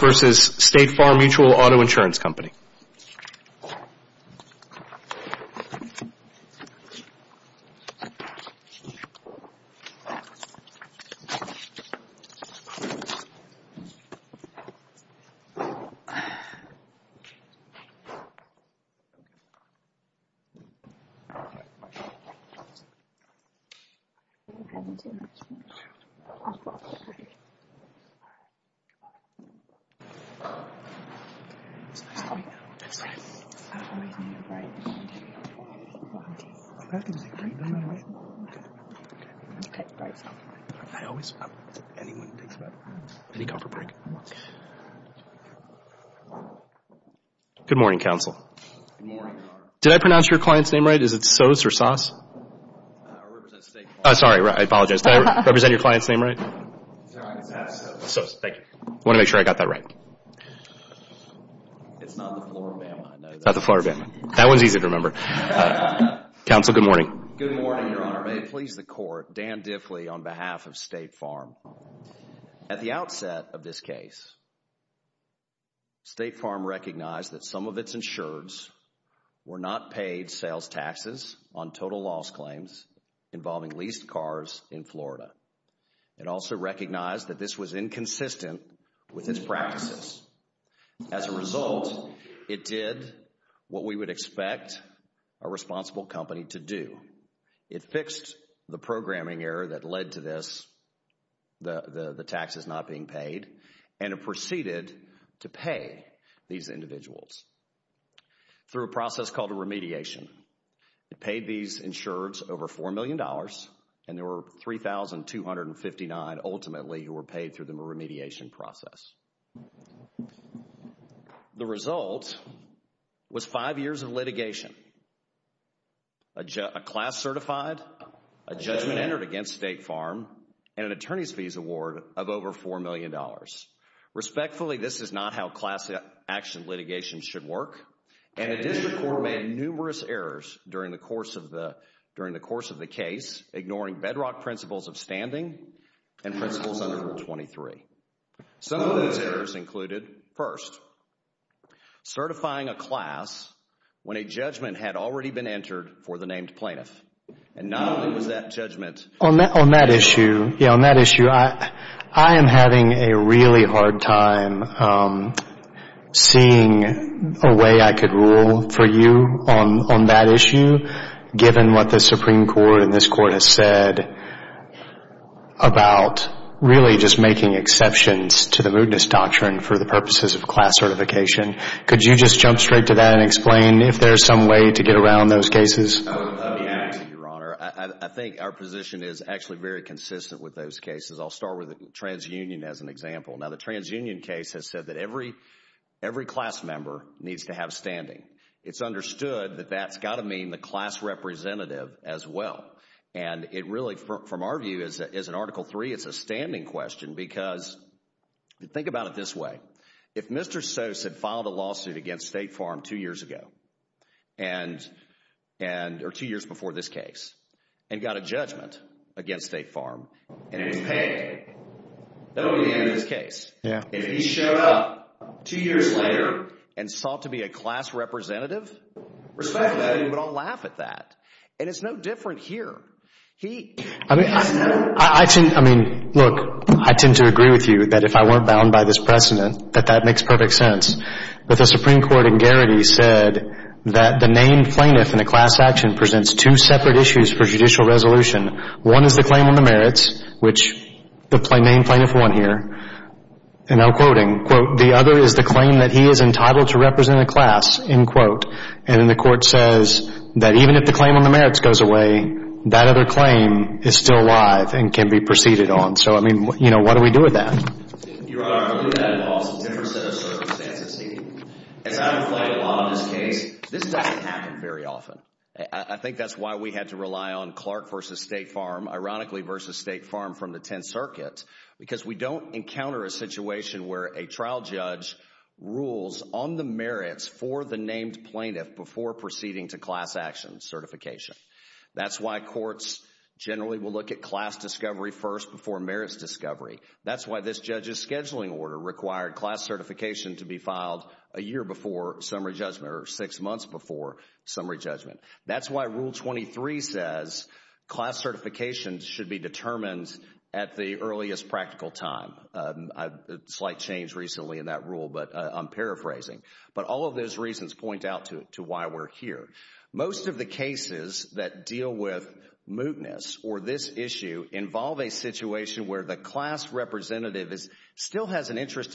versus State Farm Mutual Auto Insurance Company. Good morning, counsel. Did I pronounce your client's name right? Is it Sose or Soss? Sorry, I apologize. Did I represent your client's name right? Sose. Thank you. I want to make sure I got that right. It's not the Floribama. Not the Floribama. That one's easy to remember. Counsel, good morning. Good morning, Your Honor. May it please the Court, Dan Diffley on behalf of State Farm. At the outset of this case, State Farm recognized that some of its insureds were not paid sales taxes on total loss claims involving leased cars in Florida. It also recognized that this was inconsistent with its practices. As a result, it did what we would expect a responsible company to do. It fixed the programming error that led to this, the taxes not being paid, and it proceeded to pay these individuals through a process called a remediation. It paid these insureds over $4 million, and there were 3,259 ultimately who were paid through the remediation process. The result was five years of litigation, a class certified, a judgment entered against State Farm, and an attorney's fees award of over $4 million. Respectfully, this is not how class action litigation should work, and the District Court made numerous errors during the course of the case, ignoring bedrock principles of standing and principles under Rule 23. Some of those errors included, first, certifying a class when a judgment had already been entered for the named plaintiff, and not only was that judgment... On that issue, I am having a really hard time seeing a way I could rule for you on that issue, given what the Supreme Court and this Court has said about really just making exceptions to the mootness doctrine for the purposes of class certification. Could you just jump straight to that and explain if there is some way to get around those cases? I think our position is actually very consistent with those cases. I'll start with the transunion as an example. Now, the transunion case has said that every class member needs to have standing. It's understood that that's got to mean the class representative as well. It really, from our view, as an Article 3, it's a standing question because think about it this way. If Mr. Sose had filed a lawsuit against State Farm two years ago, or two years before this case, and got a judgment against State Farm, and it was paid, that would be the end of this case. If he showed up two years later and sought to be a class representative, respect that, and we would all laugh at that. And it's no different here. Look, I tend to agree with you that if I weren't bound by this precedent, that that makes perfect sense. But the Supreme Court in Garrity said that the named plaintiff in a class action presents two separate issues for judicial resolution. One is the claim on the merits, which the named plaintiff won here, and I'm quoting, quote, the other is the claim that he is entitled to represent a class, end quote. And then the court says that even if the claim on the merits goes away, that other claim is still alive and can be proceeded on. So, I mean, what do we do with that? Your Honor, I believe that involves a different set of circumstances here. As I've played a lot of this case, this doesn't happen very often. I think that's why we had to rely on Clark v. State Farm, ironically v. State Farm from the Tenth Circuit, because we don't encounter a situation where a trial judge rules on the merits for the named plaintiff before proceeding to class action certification. That's why courts generally will look at class discovery first before merits discovery. That's why this judge's scheduling order required class certification to be filed a year before summary judgment or six months before summary judgment. That's why Rule 23 says class certification should be determined at the earliest practical time. A slight change recently in that rule, but I'm paraphrasing. But all of those reasons point out to why we're here. Most of the cases that deal with mootness or this interest in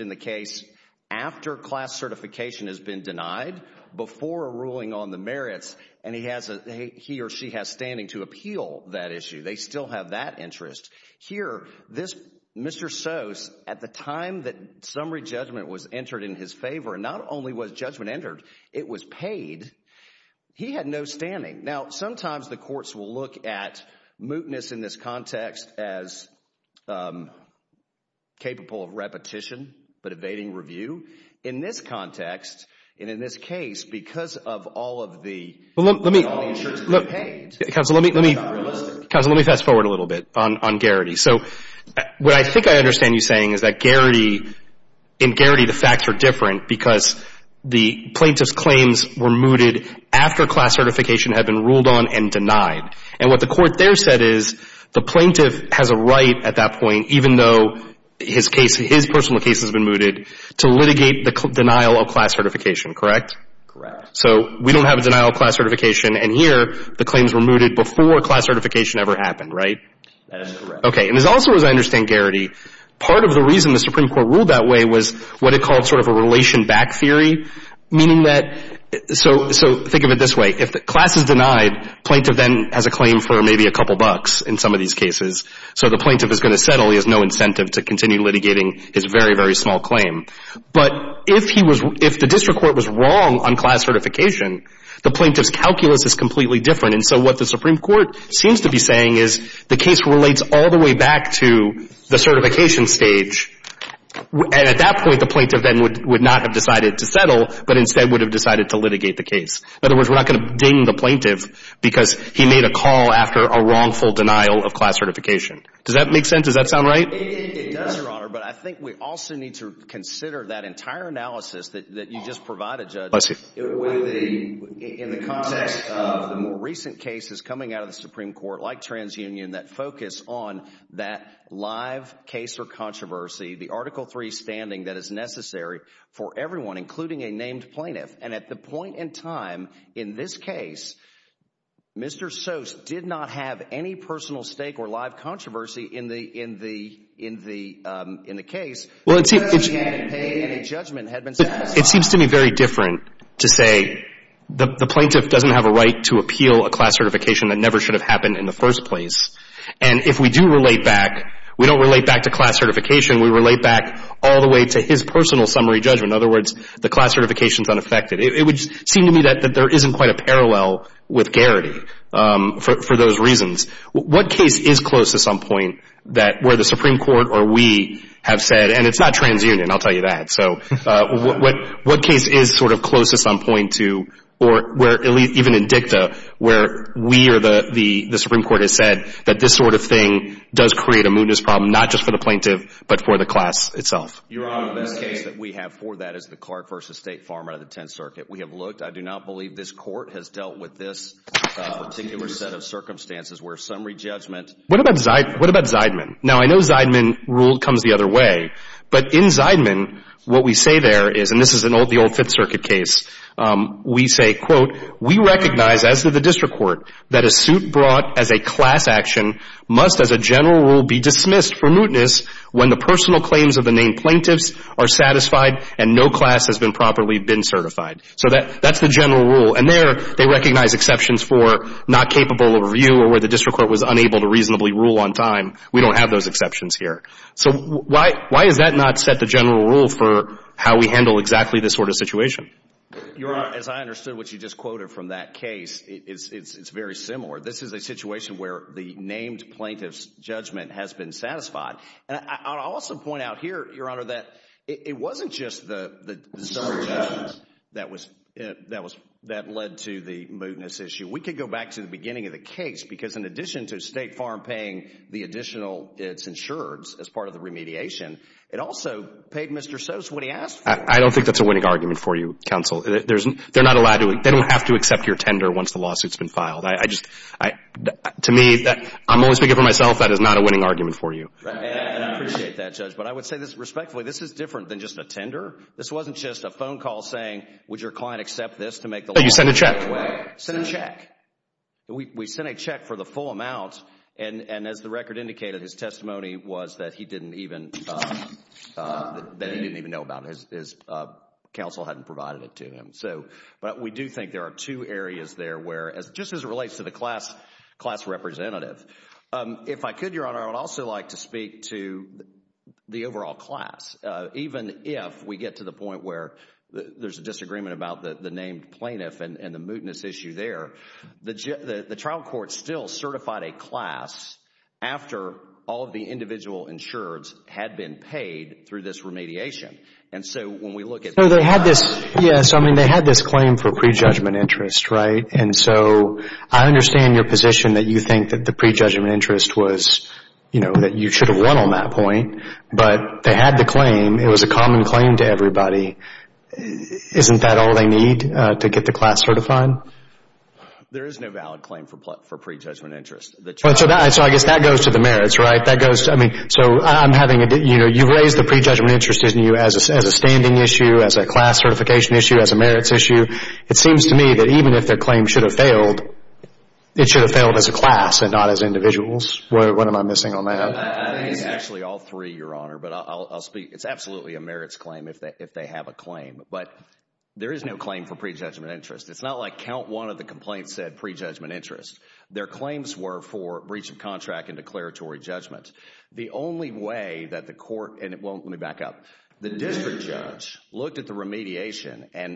the case after class certification has been denied before a ruling on the merits, and he or she has standing to appeal that issue. They still have that interest. Here, Mr. Sose, at the time that summary judgment was entered in his favor, and not only was judgment entered, it was paid. He had no standing. Now, sometimes the courts will look at mootness in this case, but evading review. In this context, and in this case, because of all of the insurance being paid, it's not realistic. Counsel, let me fast forward a little bit on Garrity. So what I think I understand you saying is that Garrity and Garrity, the facts are different because the plaintiff's claims were mooted after class certification had been ruled on and denied. And what the court there said is the plaintiff has a right at that point, even though his case, his personal case has been mooted, to litigate the denial of class certification, correct? Correct. So we don't have a denial of class certification, and here the claims were mooted before class certification ever happened, right? That is correct. Okay. And also, as I understand Garrity, part of the reason the Supreme Court ruled that way was what it called sort of a relation back theory, meaning that, so think of it this way. If class is denied, plaintiff then has a claim for maybe a couple bucks in some of these cases. So the plaintiff is going to settle. He has no incentive to continue litigating his very, very small claim. But if he was, if the district court was wrong on class certification, the plaintiff's calculus is completely different. And so what the Supreme Court seems to be saying is the case relates all the way back to the certification stage, and at that point the plaintiff then would not have decided to settle, but instead would have decided to litigate the case. In other words, we're not going to ding the plaintiff because he made a call after a wrongful denial of class certification. Does that make sense? Does that sound right? It does, Your Honor, but I think we also need to consider that entire analysis that you just provided, Judge, in the context of the more recent cases coming out of the Supreme Court, like TransUnion, that live case or controversy, the Article III standing that is necessary for everyone, including a named plaintiff. And at the point in time in this case, Mr. Sose did not have any personal stake or live controversy in the case. It seems to me very different to say the plaintiff doesn't have a right to appeal a class certification that never should have happened in the first place. And if we do relate back, we don't relate back to class certification. We relate back all the way to his personal summary judgment. In other words, the class certification is unaffected. It would seem to me that there isn't quite a parallel with Garrity for those reasons. What case is closest on point that where the Supreme Court or we have said, and it's not TransUnion, I'll tell you that, so what case is sort of closest on point to, or even in DICTA, where we or the Supreme Court has said that this sort of thing does create a mootness problem, not just for the plaintiff, but for the class itself? Your Honor, the best case that we have for that is the Clark v. State Farm out of the Tenth Circuit. We have looked. I do not believe this Court has dealt with this particular set of circumstances where summary judgment. What about Zeidman? Now, I know Zeidman rule comes the other way. But in Zeidman, what we say there is, and this is the old Fifth Circuit case, we say, quote, we recognize as to the District Court that a suit brought as a class action must as a general rule be dismissed for mootness when the personal claims of the named plaintiffs are satisfied and no class has been properly been certified. So that's the general rule. And there they recognize exceptions for not So why has that not set the general rule for how we handle exactly this sort of situation? Your Honor, as I understood what you just quoted from that case, it's very similar. This is a situation where the named plaintiff's judgment has been satisfied. And I'll also point out here, Your Honor, that it wasn't just the summary judgment that led to the mootness issue. We could go back to the beginning of the case, because in addition to State Farm paying the additional, its insureds, as part of the remediation, it also paid Mr. Sose what he asked for. I don't think that's a winning argument for you, counsel. They don't have to accept your tender once the lawsuit's been filed. To me, I'm always speaking for myself, that is not a winning argument for you. And I appreciate that, Judge. But I would say this respectfully, this is different than just a tender. This wasn't just a phone call saying, would your client accept this to make the lawsuit go away? We sent a check for the full amount, and as the record indicated, his testimony was that he didn't even know about it. His counsel hadn't provided it to him. But we do think there are two areas there where, just as it relates to the class representative, if I could, Your Honor, I would also like to speak to the overall class. Even if we get to the point where there's a disagreement about the named plaintiff and the mootness issue there, the trial court still certified a class after all of the individual insureds had been paid through this remediation. And so when we look at... Yes, I mean, they had this claim for prejudgment interest, right? And so I understand your position that you think that the prejudgment interest was, you know, that you should have won on that point. But they had the claim. It was a common claim to everybody. Isn't that all they need to get the class certified? There is no valid claim for prejudgment interest. So I guess that goes to the merits, right? You've raised the prejudgment interest issue as a standing issue, as a class certification issue, as a merits issue. It seems to me that even if their claim should have failed, it should have failed as a class and not as individuals. What am I missing on that? Actually, all three, Your Honor. But I'll speak. It's absolutely a merits claim if they have a claim. But there is no claim for prejudgment interest. It's not like count one of the complaints said prejudgment interest. Their claims were for breach of contract and declaratory judgment. The only way they could have done that is if they had gone to the judge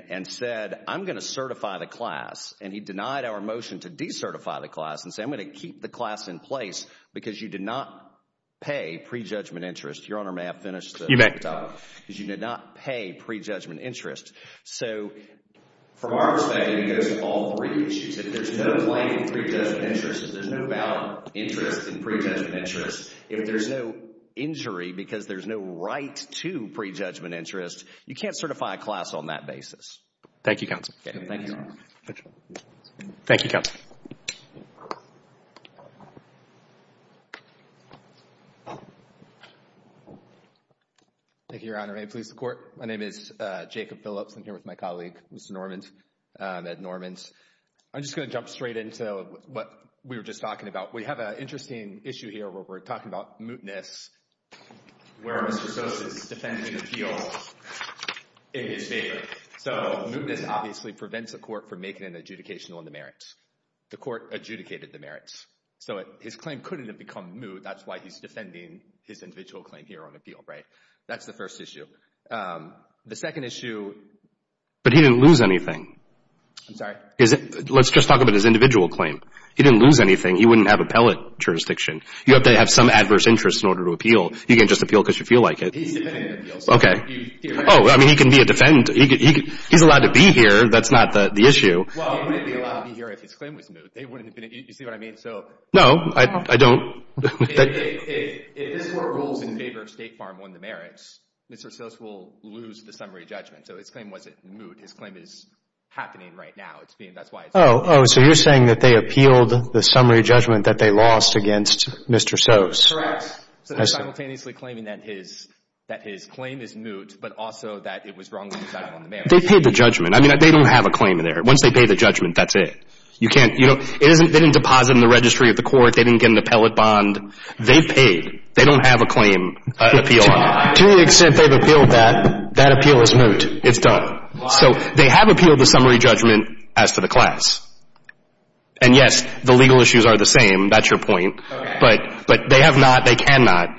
and said, I'm going to certify the class. And he denied our motion to decertify the class and said, I'm going to keep the class in place because you did not pay prejudgment interest. Your Honor, may I finish? You may. Because you did not pay prejudgment interest. So from our perspective, it goes to all three issues. If there's no claim for prejudgment interest, if there's no valid interest in prejudgment interest, if there's no injury because there's no right to prejudgment interest, you can't certify a class on that basis. Thank you, Counsel. Thank you, Counsel. Thank you, Your Honor. May it please the Court. My name is Jacob Phillips. I'm here with my colleague, Mr. Normand, Ed Normand. I'm just going to jump straight into what we were just talking about. We have an interesting issue here where we're talking about mootness where Mr. Sosa is defending an appeal in his favor. So mootness obviously prevents the Court from making an adjudication on the merits. The Court adjudicated the merits. So his claim couldn't have become moot. That's why he's defending his individual claim here on appeal, right? That's the first issue. The second issue... But he didn't lose anything. I'm sorry? Let's just talk about his individual claim. He didn't lose anything. He wouldn't have appellate jurisdiction. You have to have some adverse interest in order to appeal. You can't just appeal because you feel like it. Oh, I mean, he can be a defendant. He's allowed to be here. That's not the issue. Well, he wouldn't be allowed to be here if his claim was moot. You see what I mean? No, I don't. If this Court rules in favor of State Farm on the merits, Mr. Sosa will lose the summary judgment. So his claim wasn't moot. His claim is happening right now. Oh, so you're saying that they appealed the summary judgment that they lost against Mr. Sosa. Correct. So they're simultaneously claiming that his claim is moot, but also that it was wrongly decided on the merits. They paid the judgment. I mean, they don't have a claim there. Once they pay the judgment, that's it. They didn't deposit in the registry of the Court. They didn't get an appellate bond. They paid. They don't have a claim appeal on it. To the extent they've appealed that, that appeal is moot. It's done. So they have appealed the summary judgment as to the class. And yes, the legal issues are the same. That's your point. But they have not, they cannot,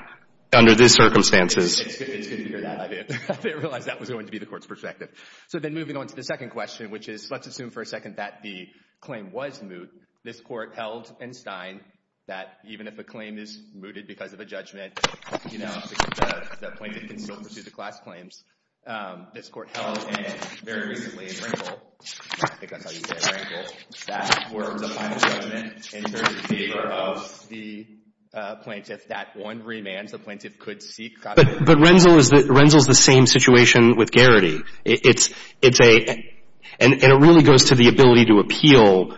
under these circumstances. It's good to hear that. I didn't realize that was going to be the Court's perspective. So then moving on to the second question, which is, let's assume for a second that the claim was moot. This Court held in Stein that even if a claim is mooted because of a judgment, you know, the plaintiff can still pursue the class claims. This Court held in, very recently in Renzel, I think that's how you say it, Renzel, that for the final judgment in terms of favor of the plaintiff, that one remands the plaintiff could seek copyright. But Renzel is the same situation with Garrity. It's a, and it really goes to the ability to appeal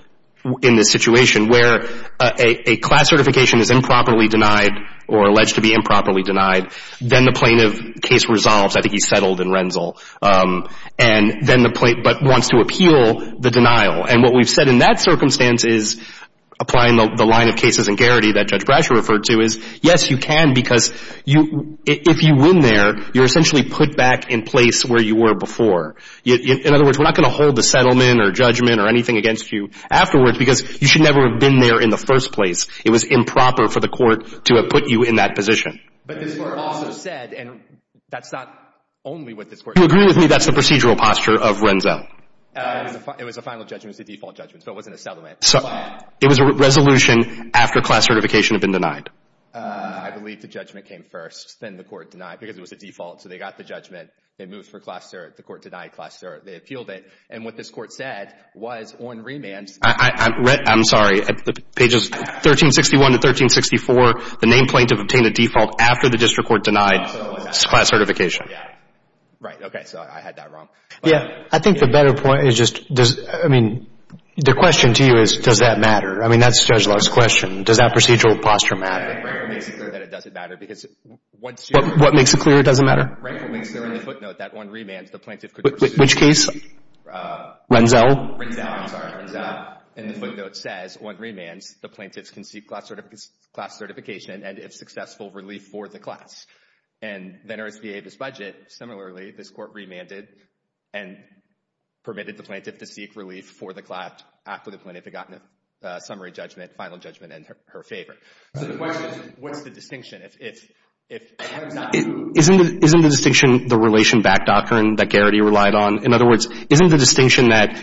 in this situation where a class certification is improperly denied or alleged to be improperly denied. Then the plaintiff's case resolves. I think he's settled in Renzel. And then the, but wants to appeal the denial. And what we've said in that circumstance is, applying the line of cases in Garrity that Judge Brasher referred to, is yes, you can, because if you win there, you're essentially put back in place where you were before. In other words, we're not going to hold the settlement or judgment or anything against you afterwards because you should never have been there in the first place. It was improper for the Court to have put you in that position. But this Court also said, and that's not only what this Court said. Do you agree with me that's the procedural posture of Renzel? It was a final judgment. It was a default judgment. So it wasn't a settlement. It was a resolution after class certification had been denied. I believe the judgment came first, then the Court denied, because it was a default. So they got the judgment. It moved for class, the Court denied class, they appealed it. And what this Court said was on remand. I'm sorry. Pages 1361 to 1364, the named plaintiff obtained a default after the District Court denied class certification. Right. Okay. So I had that wrong. The question to you is, does that matter? I mean, that's Judge Love's question. Does that procedural posture matter? What makes it clear it doesn't matter? Which case? Renzel? Renzel, I'm sorry. Renzel. And the footnote says, on remands, the plaintiffs can seek class certification and, if successful, relief for the class. And then RSVA, this budget, similarly, this Court remanded and permitted the plaintiff to seek relief for the class after the plaintiff had gotten a summary judgment, final judgment in her favor. Isn't the distinction the relation backdock that Garrity relied on? In other words, isn't the distinction that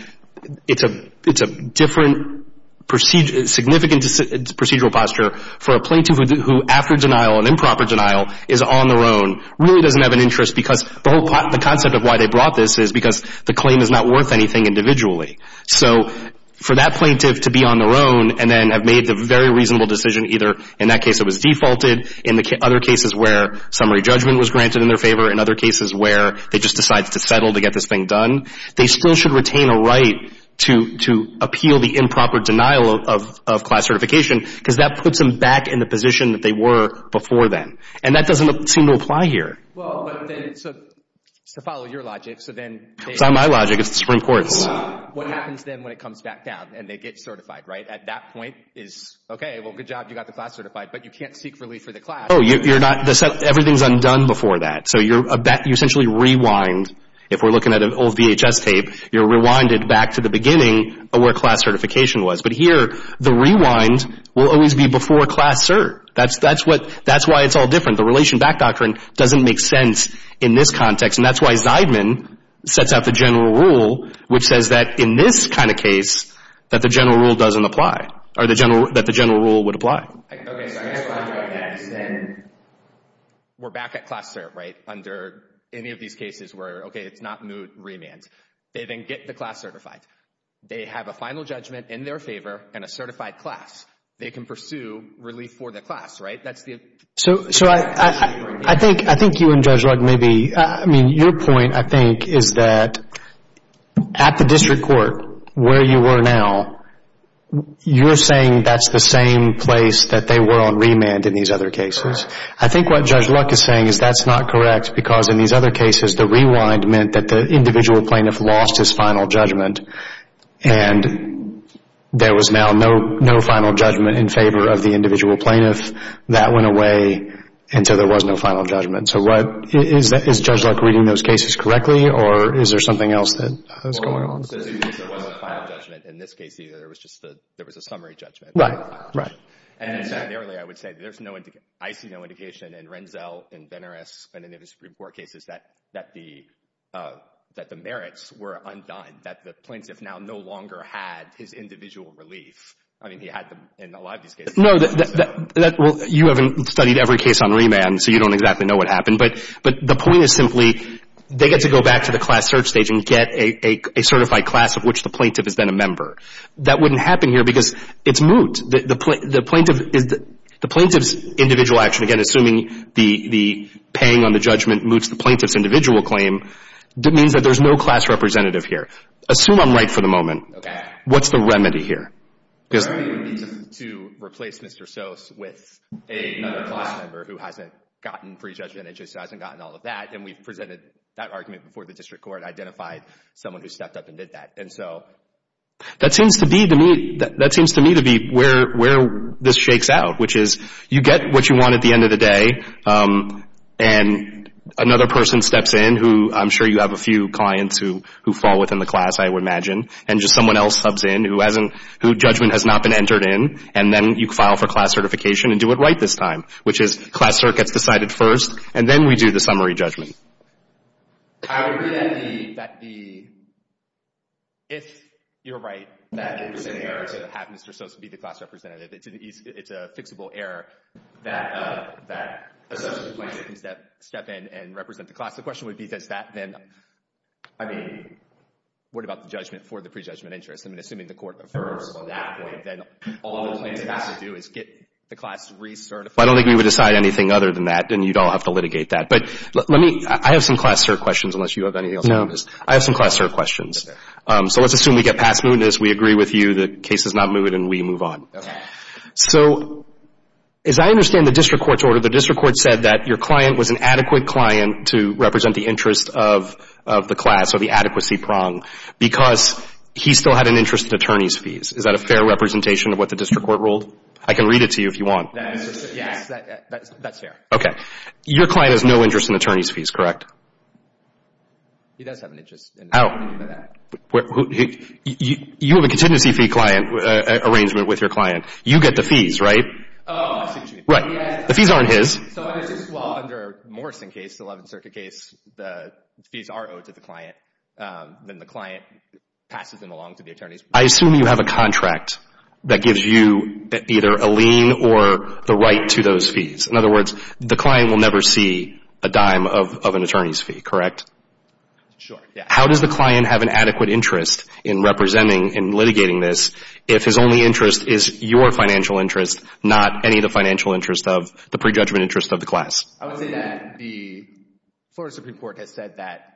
it's a different procedure, significant procedural posture for a plaintiff who, after denial and improper denial, is on their own, really doesn't have an interest because the whole concept of why they brought this is because the claim is not worth anything individually. So for that plaintiff to be on their own and then have made the very reasonable decision, either in that case it was defaulted, in other cases where summary judgment was granted in their favor, in other cases where they just decided to settle to get this thing done, they still should retain a right to appeal the improper denial of class certification because that puts them back in the position that they were before then. And that doesn't seem to apply here. Well, but then, to follow your logic, so then... It's not my logic, it's the Supreme Court's. What happens then when it comes back down and they get certified, right? At that point is, okay, well, good job, you got the class certified, but you can't seek relief for the class. Oh, everything's undone before that. So you essentially rewind, if we're looking at an old VHS tape, you're rewinded back to the beginning of where class certification was. But here, the rewind will always be before class cert. That's why it's all different. The relation back doctrine doesn't make sense in this context, and that's why Zeidman sets out the general rule, which says that in this kind of case, that the general rule doesn't apply, or that the general rule would apply. Okay, so I guess what I'm trying to get at is then, we're back at class cert, right? Under any of these cases where, okay, it's not moot, remand. They then get the class certified. They have a final judgment in their favor and a certified class. They can pursue relief for the class, right? That's the... So I think you and Judge Luck maybe, I mean, your point, I think, is that at the district court, where you were now, you're saying that's the same place that they were on remand in these other cases. I think what Judge Luck is saying is that's not correct, because in these other cases, the rewind meant that the individual plaintiff lost his final judgment, and there was now no final judgment in favor of the individual plaintiff. That went away, and so there was no final judgment. So what, is Judge Luck reading those cases correctly, or is there something else that's going on? There was a final judgment. In this case, there was a summary judgment. Right, right. And I would say there's no indication, I see no indication in Renzel and Benares and any of the Supreme Court cases that the merits were undone, that the plaintiff now no longer had his individual relief. I mean, he had them in a lot of these cases. No, you haven't studied every case on remand, so you don't exactly know what happened, but the point is simply they get to go back to the class search stage and get a certified class of which the plaintiff has been a member. That wouldn't happen here, because it's moot. The plaintiff's individual action, again, assuming the paying on the judgment moots the plaintiff's individual claim, that means that there's no class representative here. Assume I'm right for the moment. What's the remedy here? The remedy would be to replace Mr. Sose with another class member who hasn't gotten pre-judgment, who just hasn't gotten all of that, and we've presented that argument before the district court, identified someone who stepped up and did that. And so that seems to me to be where this shakes out, which is you get what you want at the end of the day, and another person steps in who I'm sure you have a few clients who fall within the class, I would imagine, and just someone else steps in who judgment has not been entered in, and then you file for class certification and do it right this time, which is class search gets decided first, and then we do the summary judgment. If you're right that it was an error to have Mr. Sose be the class representative, it's a fixable error that a certain plaintiff can step in and represent the class. The question would be does that then, I mean, what about the judgment for the pre-judgment interest? I mean, assuming the court refers on that point, then all the plaintiff has to do is get the class recertified. I don't think we would decide anything other than that, and you'd all have to litigate that. But let me, I have some class search questions, unless you have anything else. No. I have some class search questions. So let's assume we get past mootness, we agree with you, the case is not mooted, and we move on. Okay. So as I understand the district court's order, the district court said that your client was an adequate client to represent the interest of the class or the adequacy prong because he still had an interest in attorney's fees. Is that a fair representation of what the district court ruled? I can read it to you if you want. That's fair. Okay. Your client has no interest in attorney's fees, correct? He does have an interest. You have a contingency fee client arrangement with your client. You get the fees, right? Right. The fees aren't his. I assume you have a contract that gives you either a lien or the right to those fees. In other words, the client will never see a dime of an attorney's fee, correct? Sure. His only interest is your financial interest, not any of the financial interest of the prejudgment interest of the class. I would say that the Florida Supreme Court has said that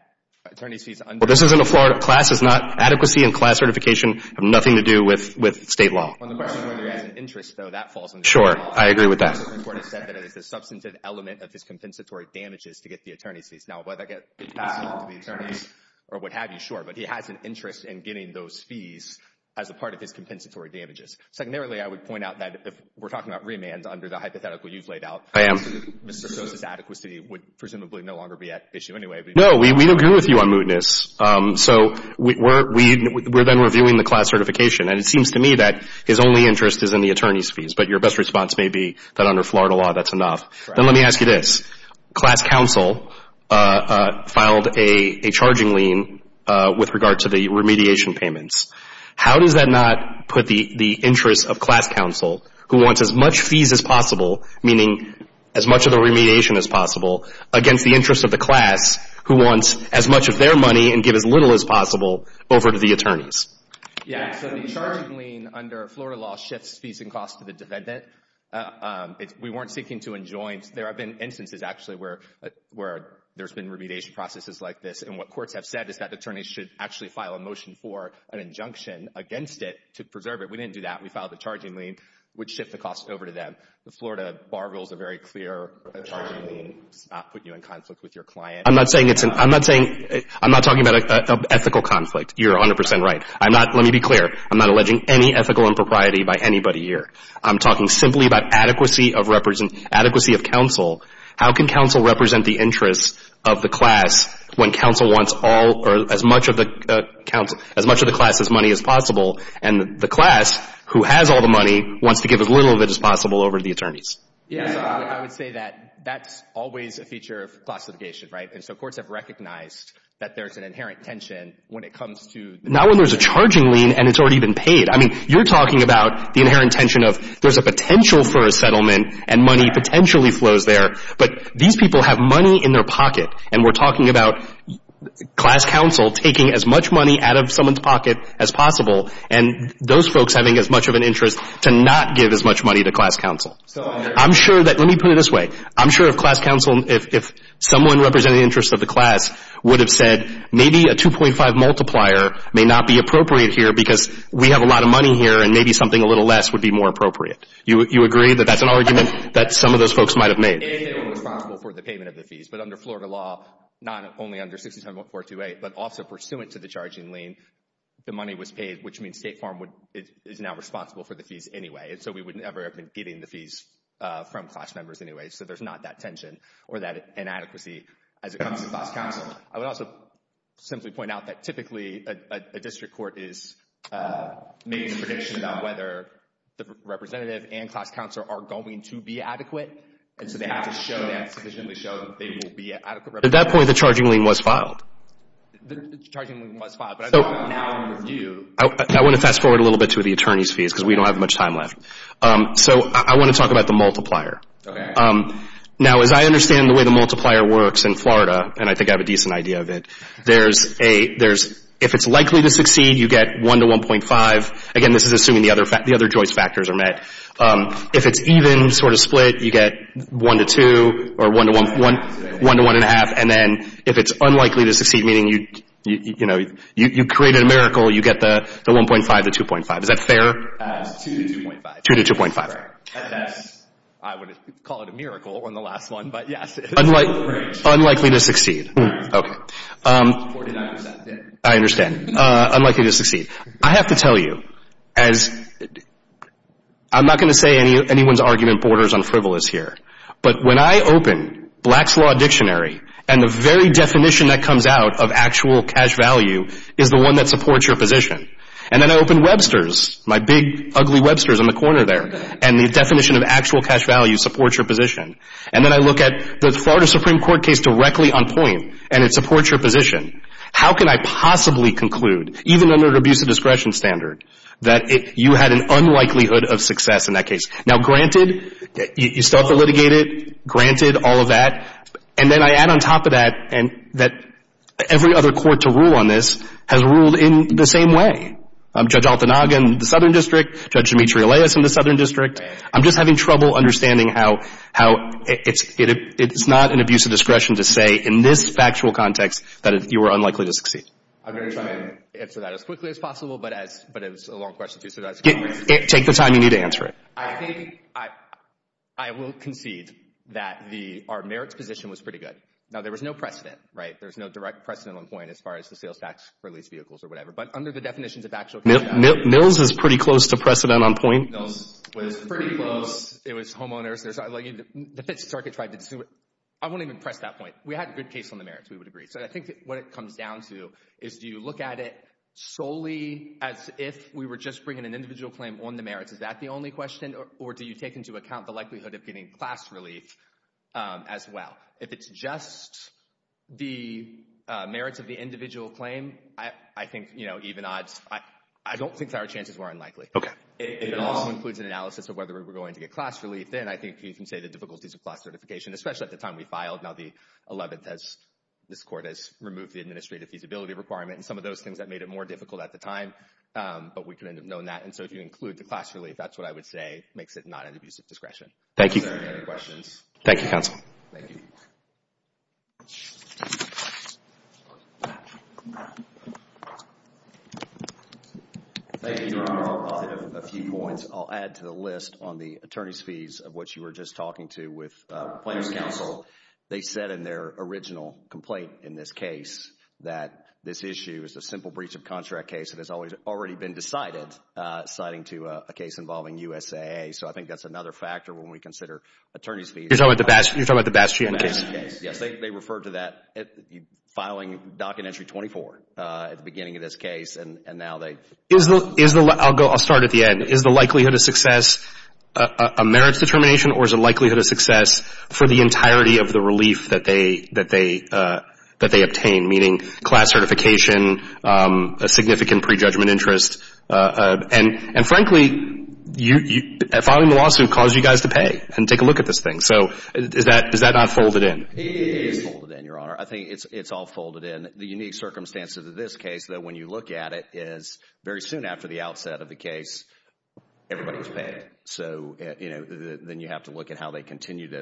attorney's fees under the law... Well, this isn't a Florida... Class is not... Adequacy and class certification have nothing to do with state law. On the question whether he has an interest, though, that falls under the law. Sure. I agree with that. The Florida Supreme Court has said that it is the substantive element of his compensatory damages to get the attorney's fees. Now, whether that gets passed on to the attorneys or what have you, sure. But he has an interest in getting those fees as a part of his compensatory damages. Secondarily, I would point out that if we're talking about remands under the hypothetical you've laid out... I am. ...Mr. Sosa's adequacy would presumably no longer be at issue anyway. No, we agree with you on mootness. So we're then reviewing the class certification. And it seems to me that his only interest is in the attorney's fees, but your best response may be that under Florida law that's enough. Then let me ask you this. Class counsel filed a charging lien with regard to the remediation payments. How does that not put the interest of class counsel, who wants as much fees as possible, meaning as much of the remediation as possible, against the interest of the class who wants as much of their money and get as little as possible over to the attorneys? Yeah. So the charging lien under Florida law shifts fees and costs to the defendant. We weren't seeking to enjoin. There have been instances, actually, where there's been remediation processes like this. And what courts have said is that attorneys should actually file a motion for an injunction against it to preserve it. We didn't do that. We filed the charging lien, which shifts the costs over to them. The Florida bar rules are very clear. A charging lien does not put you in conflict with your client. I'm not talking about an ethical conflict. You're 100 percent right. Let me be clear. I'm not alleging any ethical impropriety by anybody here. I'm talking simply about adequacy of counsel. How can counsel represent the interests of the class when counsel wants all or as much of the counsel as much of the class as money as possible? And the class who has all the money wants to give as little of it as possible over to the attorneys. Yeah. I would say that that's always a feature of classification. Right. And so courts have recognized that there's an inherent tension when it comes to not when there's a charging lien and it's already been paid. I mean, you're talking about the inherent tension of there's a potential for a settlement and money potentially flows there. But these people have money in their pocket. And we're talking about class counsel taking as much money out of someone's pocket as possible. And those folks having as much of an interest to not give as much money to class counsel. So I'm sure that let me put it this way. I'm sure of class counsel. If someone representing the interests of the class would have said maybe a 2.5 multiplier may not be appropriate here because we have a lot of money here and maybe something a little less would be more appropriate. You agree that that's an argument that some of those folks might have made. And they were responsible for the payment of the fees. But under Florida law, not only under 67.428, but also pursuant to the charging lien, the money was paid, which means State Farm is now responsible for the fees anyway. And so we wouldn't ever have been getting the fees from class members anyway. So there's not that tension or that inadequacy as it comes to class counsel. I would also simply point out that typically a district court is making a prediction about whether the representative and class counsel are going to be adequate. And so they have to sufficiently show that they will be an adequate representative. At that point, the charging lien was filed. I want to fast forward a little bit to the attorney's fees because we don't have much time left. So I want to talk about the multiplier. Now, as I understand the way the multiplier works in Florida, and I think I have a decent idea of it, if it's likely to succeed, you get 1 to 1.5. Again, this is assuming the other Joyce factors are met. If it's even, sort of split, you get 1 to 2 or 1 to 1.5. And then if it's unlikely to succeed, meaning you created a miracle, you get the 1.5 to 2.5. Is that fair? 2 to 2.5. Unlikely to succeed. I understand. Unlikely to succeed. I have to tell you, I'm not going to say anyone's argument borders on frivolous here, but when I open Black's Law Dictionary and the very definition that comes out of actual cash value is the one that supports your position, and then I open Webster's, my big ugly Webster's in the corner there, and the definition of actual cash value supports your position, and then I look at the Florida Supreme Court case directly on point, and it supports your position. How can I possibly conclude, even under an abuse of discretion standard, that you had an unlikelihood of success in that case? Now, granted, you still have to litigate it. Granted, all of that. And then I add on top of that that every other court to rule on this has ruled in the same way. Judge Altanaga in the Southern District, Judge Dimitri Elias in the Southern District. I'm just having trouble understanding how it's not an abuse of discretion to say in this factual context that you were unlikely to succeed. I'm going to try to answer that as quickly as possible, but it's a long question to answer. Take the time you need to answer it. I will concede that our merits position was pretty good. Now, there was no precedent, right? As far as the sales tax for leased vehicles or whatever. Mills is pretty close to precedent on point. Mills was pretty close. It was homeowners. I won't even press that point. We had a good case on the merits. We would agree. So I think what it comes down to is do you look at it solely as if we were just bringing an individual claim on the merits? Is that the only question? Or do you take into account the likelihood of getting class relief as well? If it's just the merits of the individual claim, I think, you know, even odds. I don't think our chances were unlikely. It also includes an analysis of whether we were going to get class relief. Then I think you can say the difficulties of class certification, especially at the time we filed. Now, the 11th, this Court has removed the administrative feasibility requirement and some of those things that made it more difficult at the time. But we could have known that. And so if you include the class relief, that's what I would say makes it not an abusive discretion. Thank you. Thank you, Your Honor. Thank you, Your Honor. I'll add a few points. I'll add to the list on the attorney's fees of what you were just talking to with Plaintiff's Counsel. They said in their original complaint in this case that this issue is a simple breach of contract case. It has already been decided, citing to a case involving USAA. So I think that's another factor when we consider attorney's fees. You're talking about the Bastion case? Bastion case, yes. They referred to that filing Document Entry 24 at the beginning of this case. I'll start at the end. And frankly, filing the lawsuit caused you guys to pay and take a look at this thing. So is that not folded in? It is folded in, Your Honor. I think it's all folded in. The unique circumstances of this case, though, when you look at it, is very soon after the outset of the case, everybody was paid.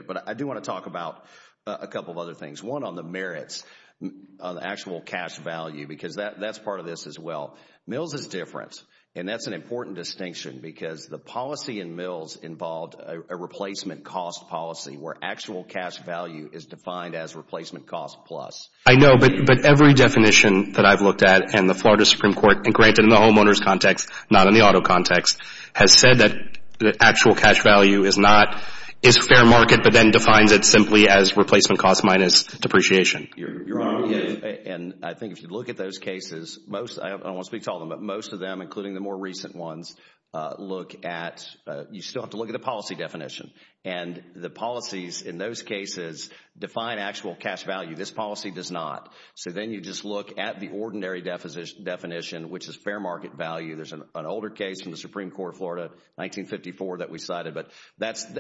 But I do want to talk about a couple of other things. One on the merits of actual cash value, because that's part of this as well. Mills is different, and that's an important distinction, because the policy in Mills involved a replacement cost policy where actual cash value is defined as replacement cost plus. I know, but every definition that I've looked at in the Florida Supreme Court, and granted in the homeowners context, not in the auto context, has said that actual cash value is fair market, but then defines it simply as replacement cost minus depreciation. Your Honor, and I think if you look at those cases, I don't want to speak to all of them, but most of them, including the more recent ones, you still have to look at the policy definition. And the policies in those cases define actual cash value. This policy does not. So then you just look at the ordinary definition, which is fair market value. There's an older case from the Supreme Court of Florida, 1954, that we cited. But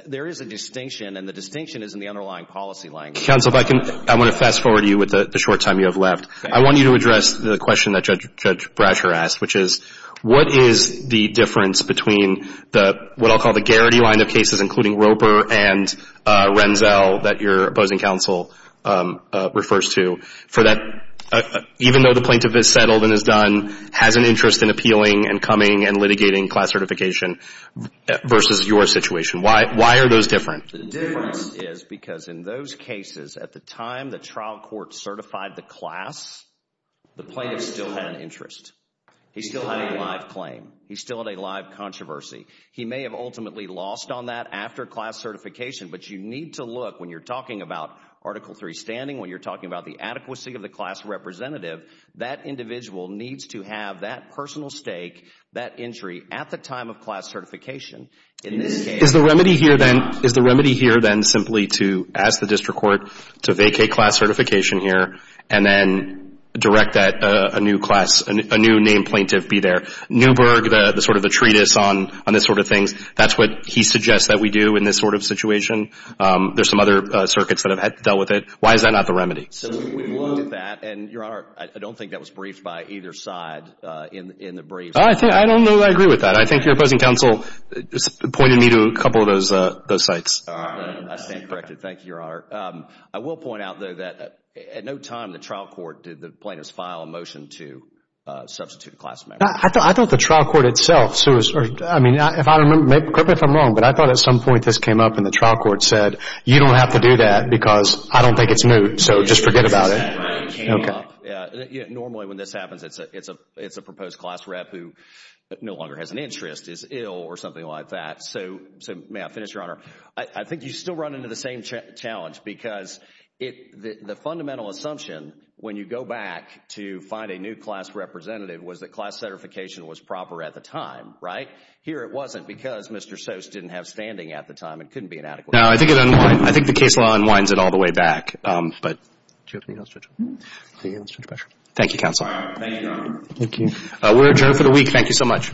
there is a distinction, and the distinction is in the underlying policy language. Counsel, if I can, I want to fast-forward you with the short time you have left. I want you to address the question that Judge Brasher asked, which is, what is the difference between what I'll call the Garrity line of cases, including Roper and Renzell, that your opposing counsel refers to, for that, even though the plaintiff is settled and is done, has an interest in appealing and coming and litigating class certification, versus your situation. Why are those different? The difference is because in those cases, at the time the trial court certified the class, the plaintiff still had an interest. He still had a live claim. He still had a live controversy. He may have ultimately lost on that after class certification, but you need to look, when you're talking about Article III standing, when you're talking about the adequacy of the class representative, that individual needs to have that personal stake, that entry, at the time of class certification in this case. Is the remedy here then simply to ask the district court to vacate class certification here and then direct that a new name plaintiff be there? Newberg, the sort of the treatise on this sort of thing, that's what he suggests that we do in this sort of situation. There are some other circuits that have dealt with it. Why is that not the remedy? So we've looked at that, and, Your Honor, I don't think that was briefed by either side in the brief. I don't know that I agree with that. I think your opposing counsel pointed me to a couple of those sites. I stand corrected. Thank you, Your Honor. I will point out, though, that at no time in the trial court did the plaintiffs file a motion to substitute a class member. I thought the trial court itself, Sue, I mean, correct me if I'm wrong, but I thought at some point this came up and the trial court said, you don't have to do that because I don't think it's moot, so just forget about it. Normally when this happens, it's a proposed class rep who no longer has an interest, is ill or something like that. So may I finish, Your Honor? I think you still run into the same challenge because the fundamental assumption when you go back to find a new class representative was that class certification was proper at the time, right? Here it wasn't because Mr. Sose didn't have standing at the time. It couldn't be inadequate. No, I think it unwinds. I think the case law unwinds it all the way back. But do you have anything else to add? Thank you, Counsel. Thank you, Your Honor. Thank you. We're adjourned for the week. Thank you so much. All rise.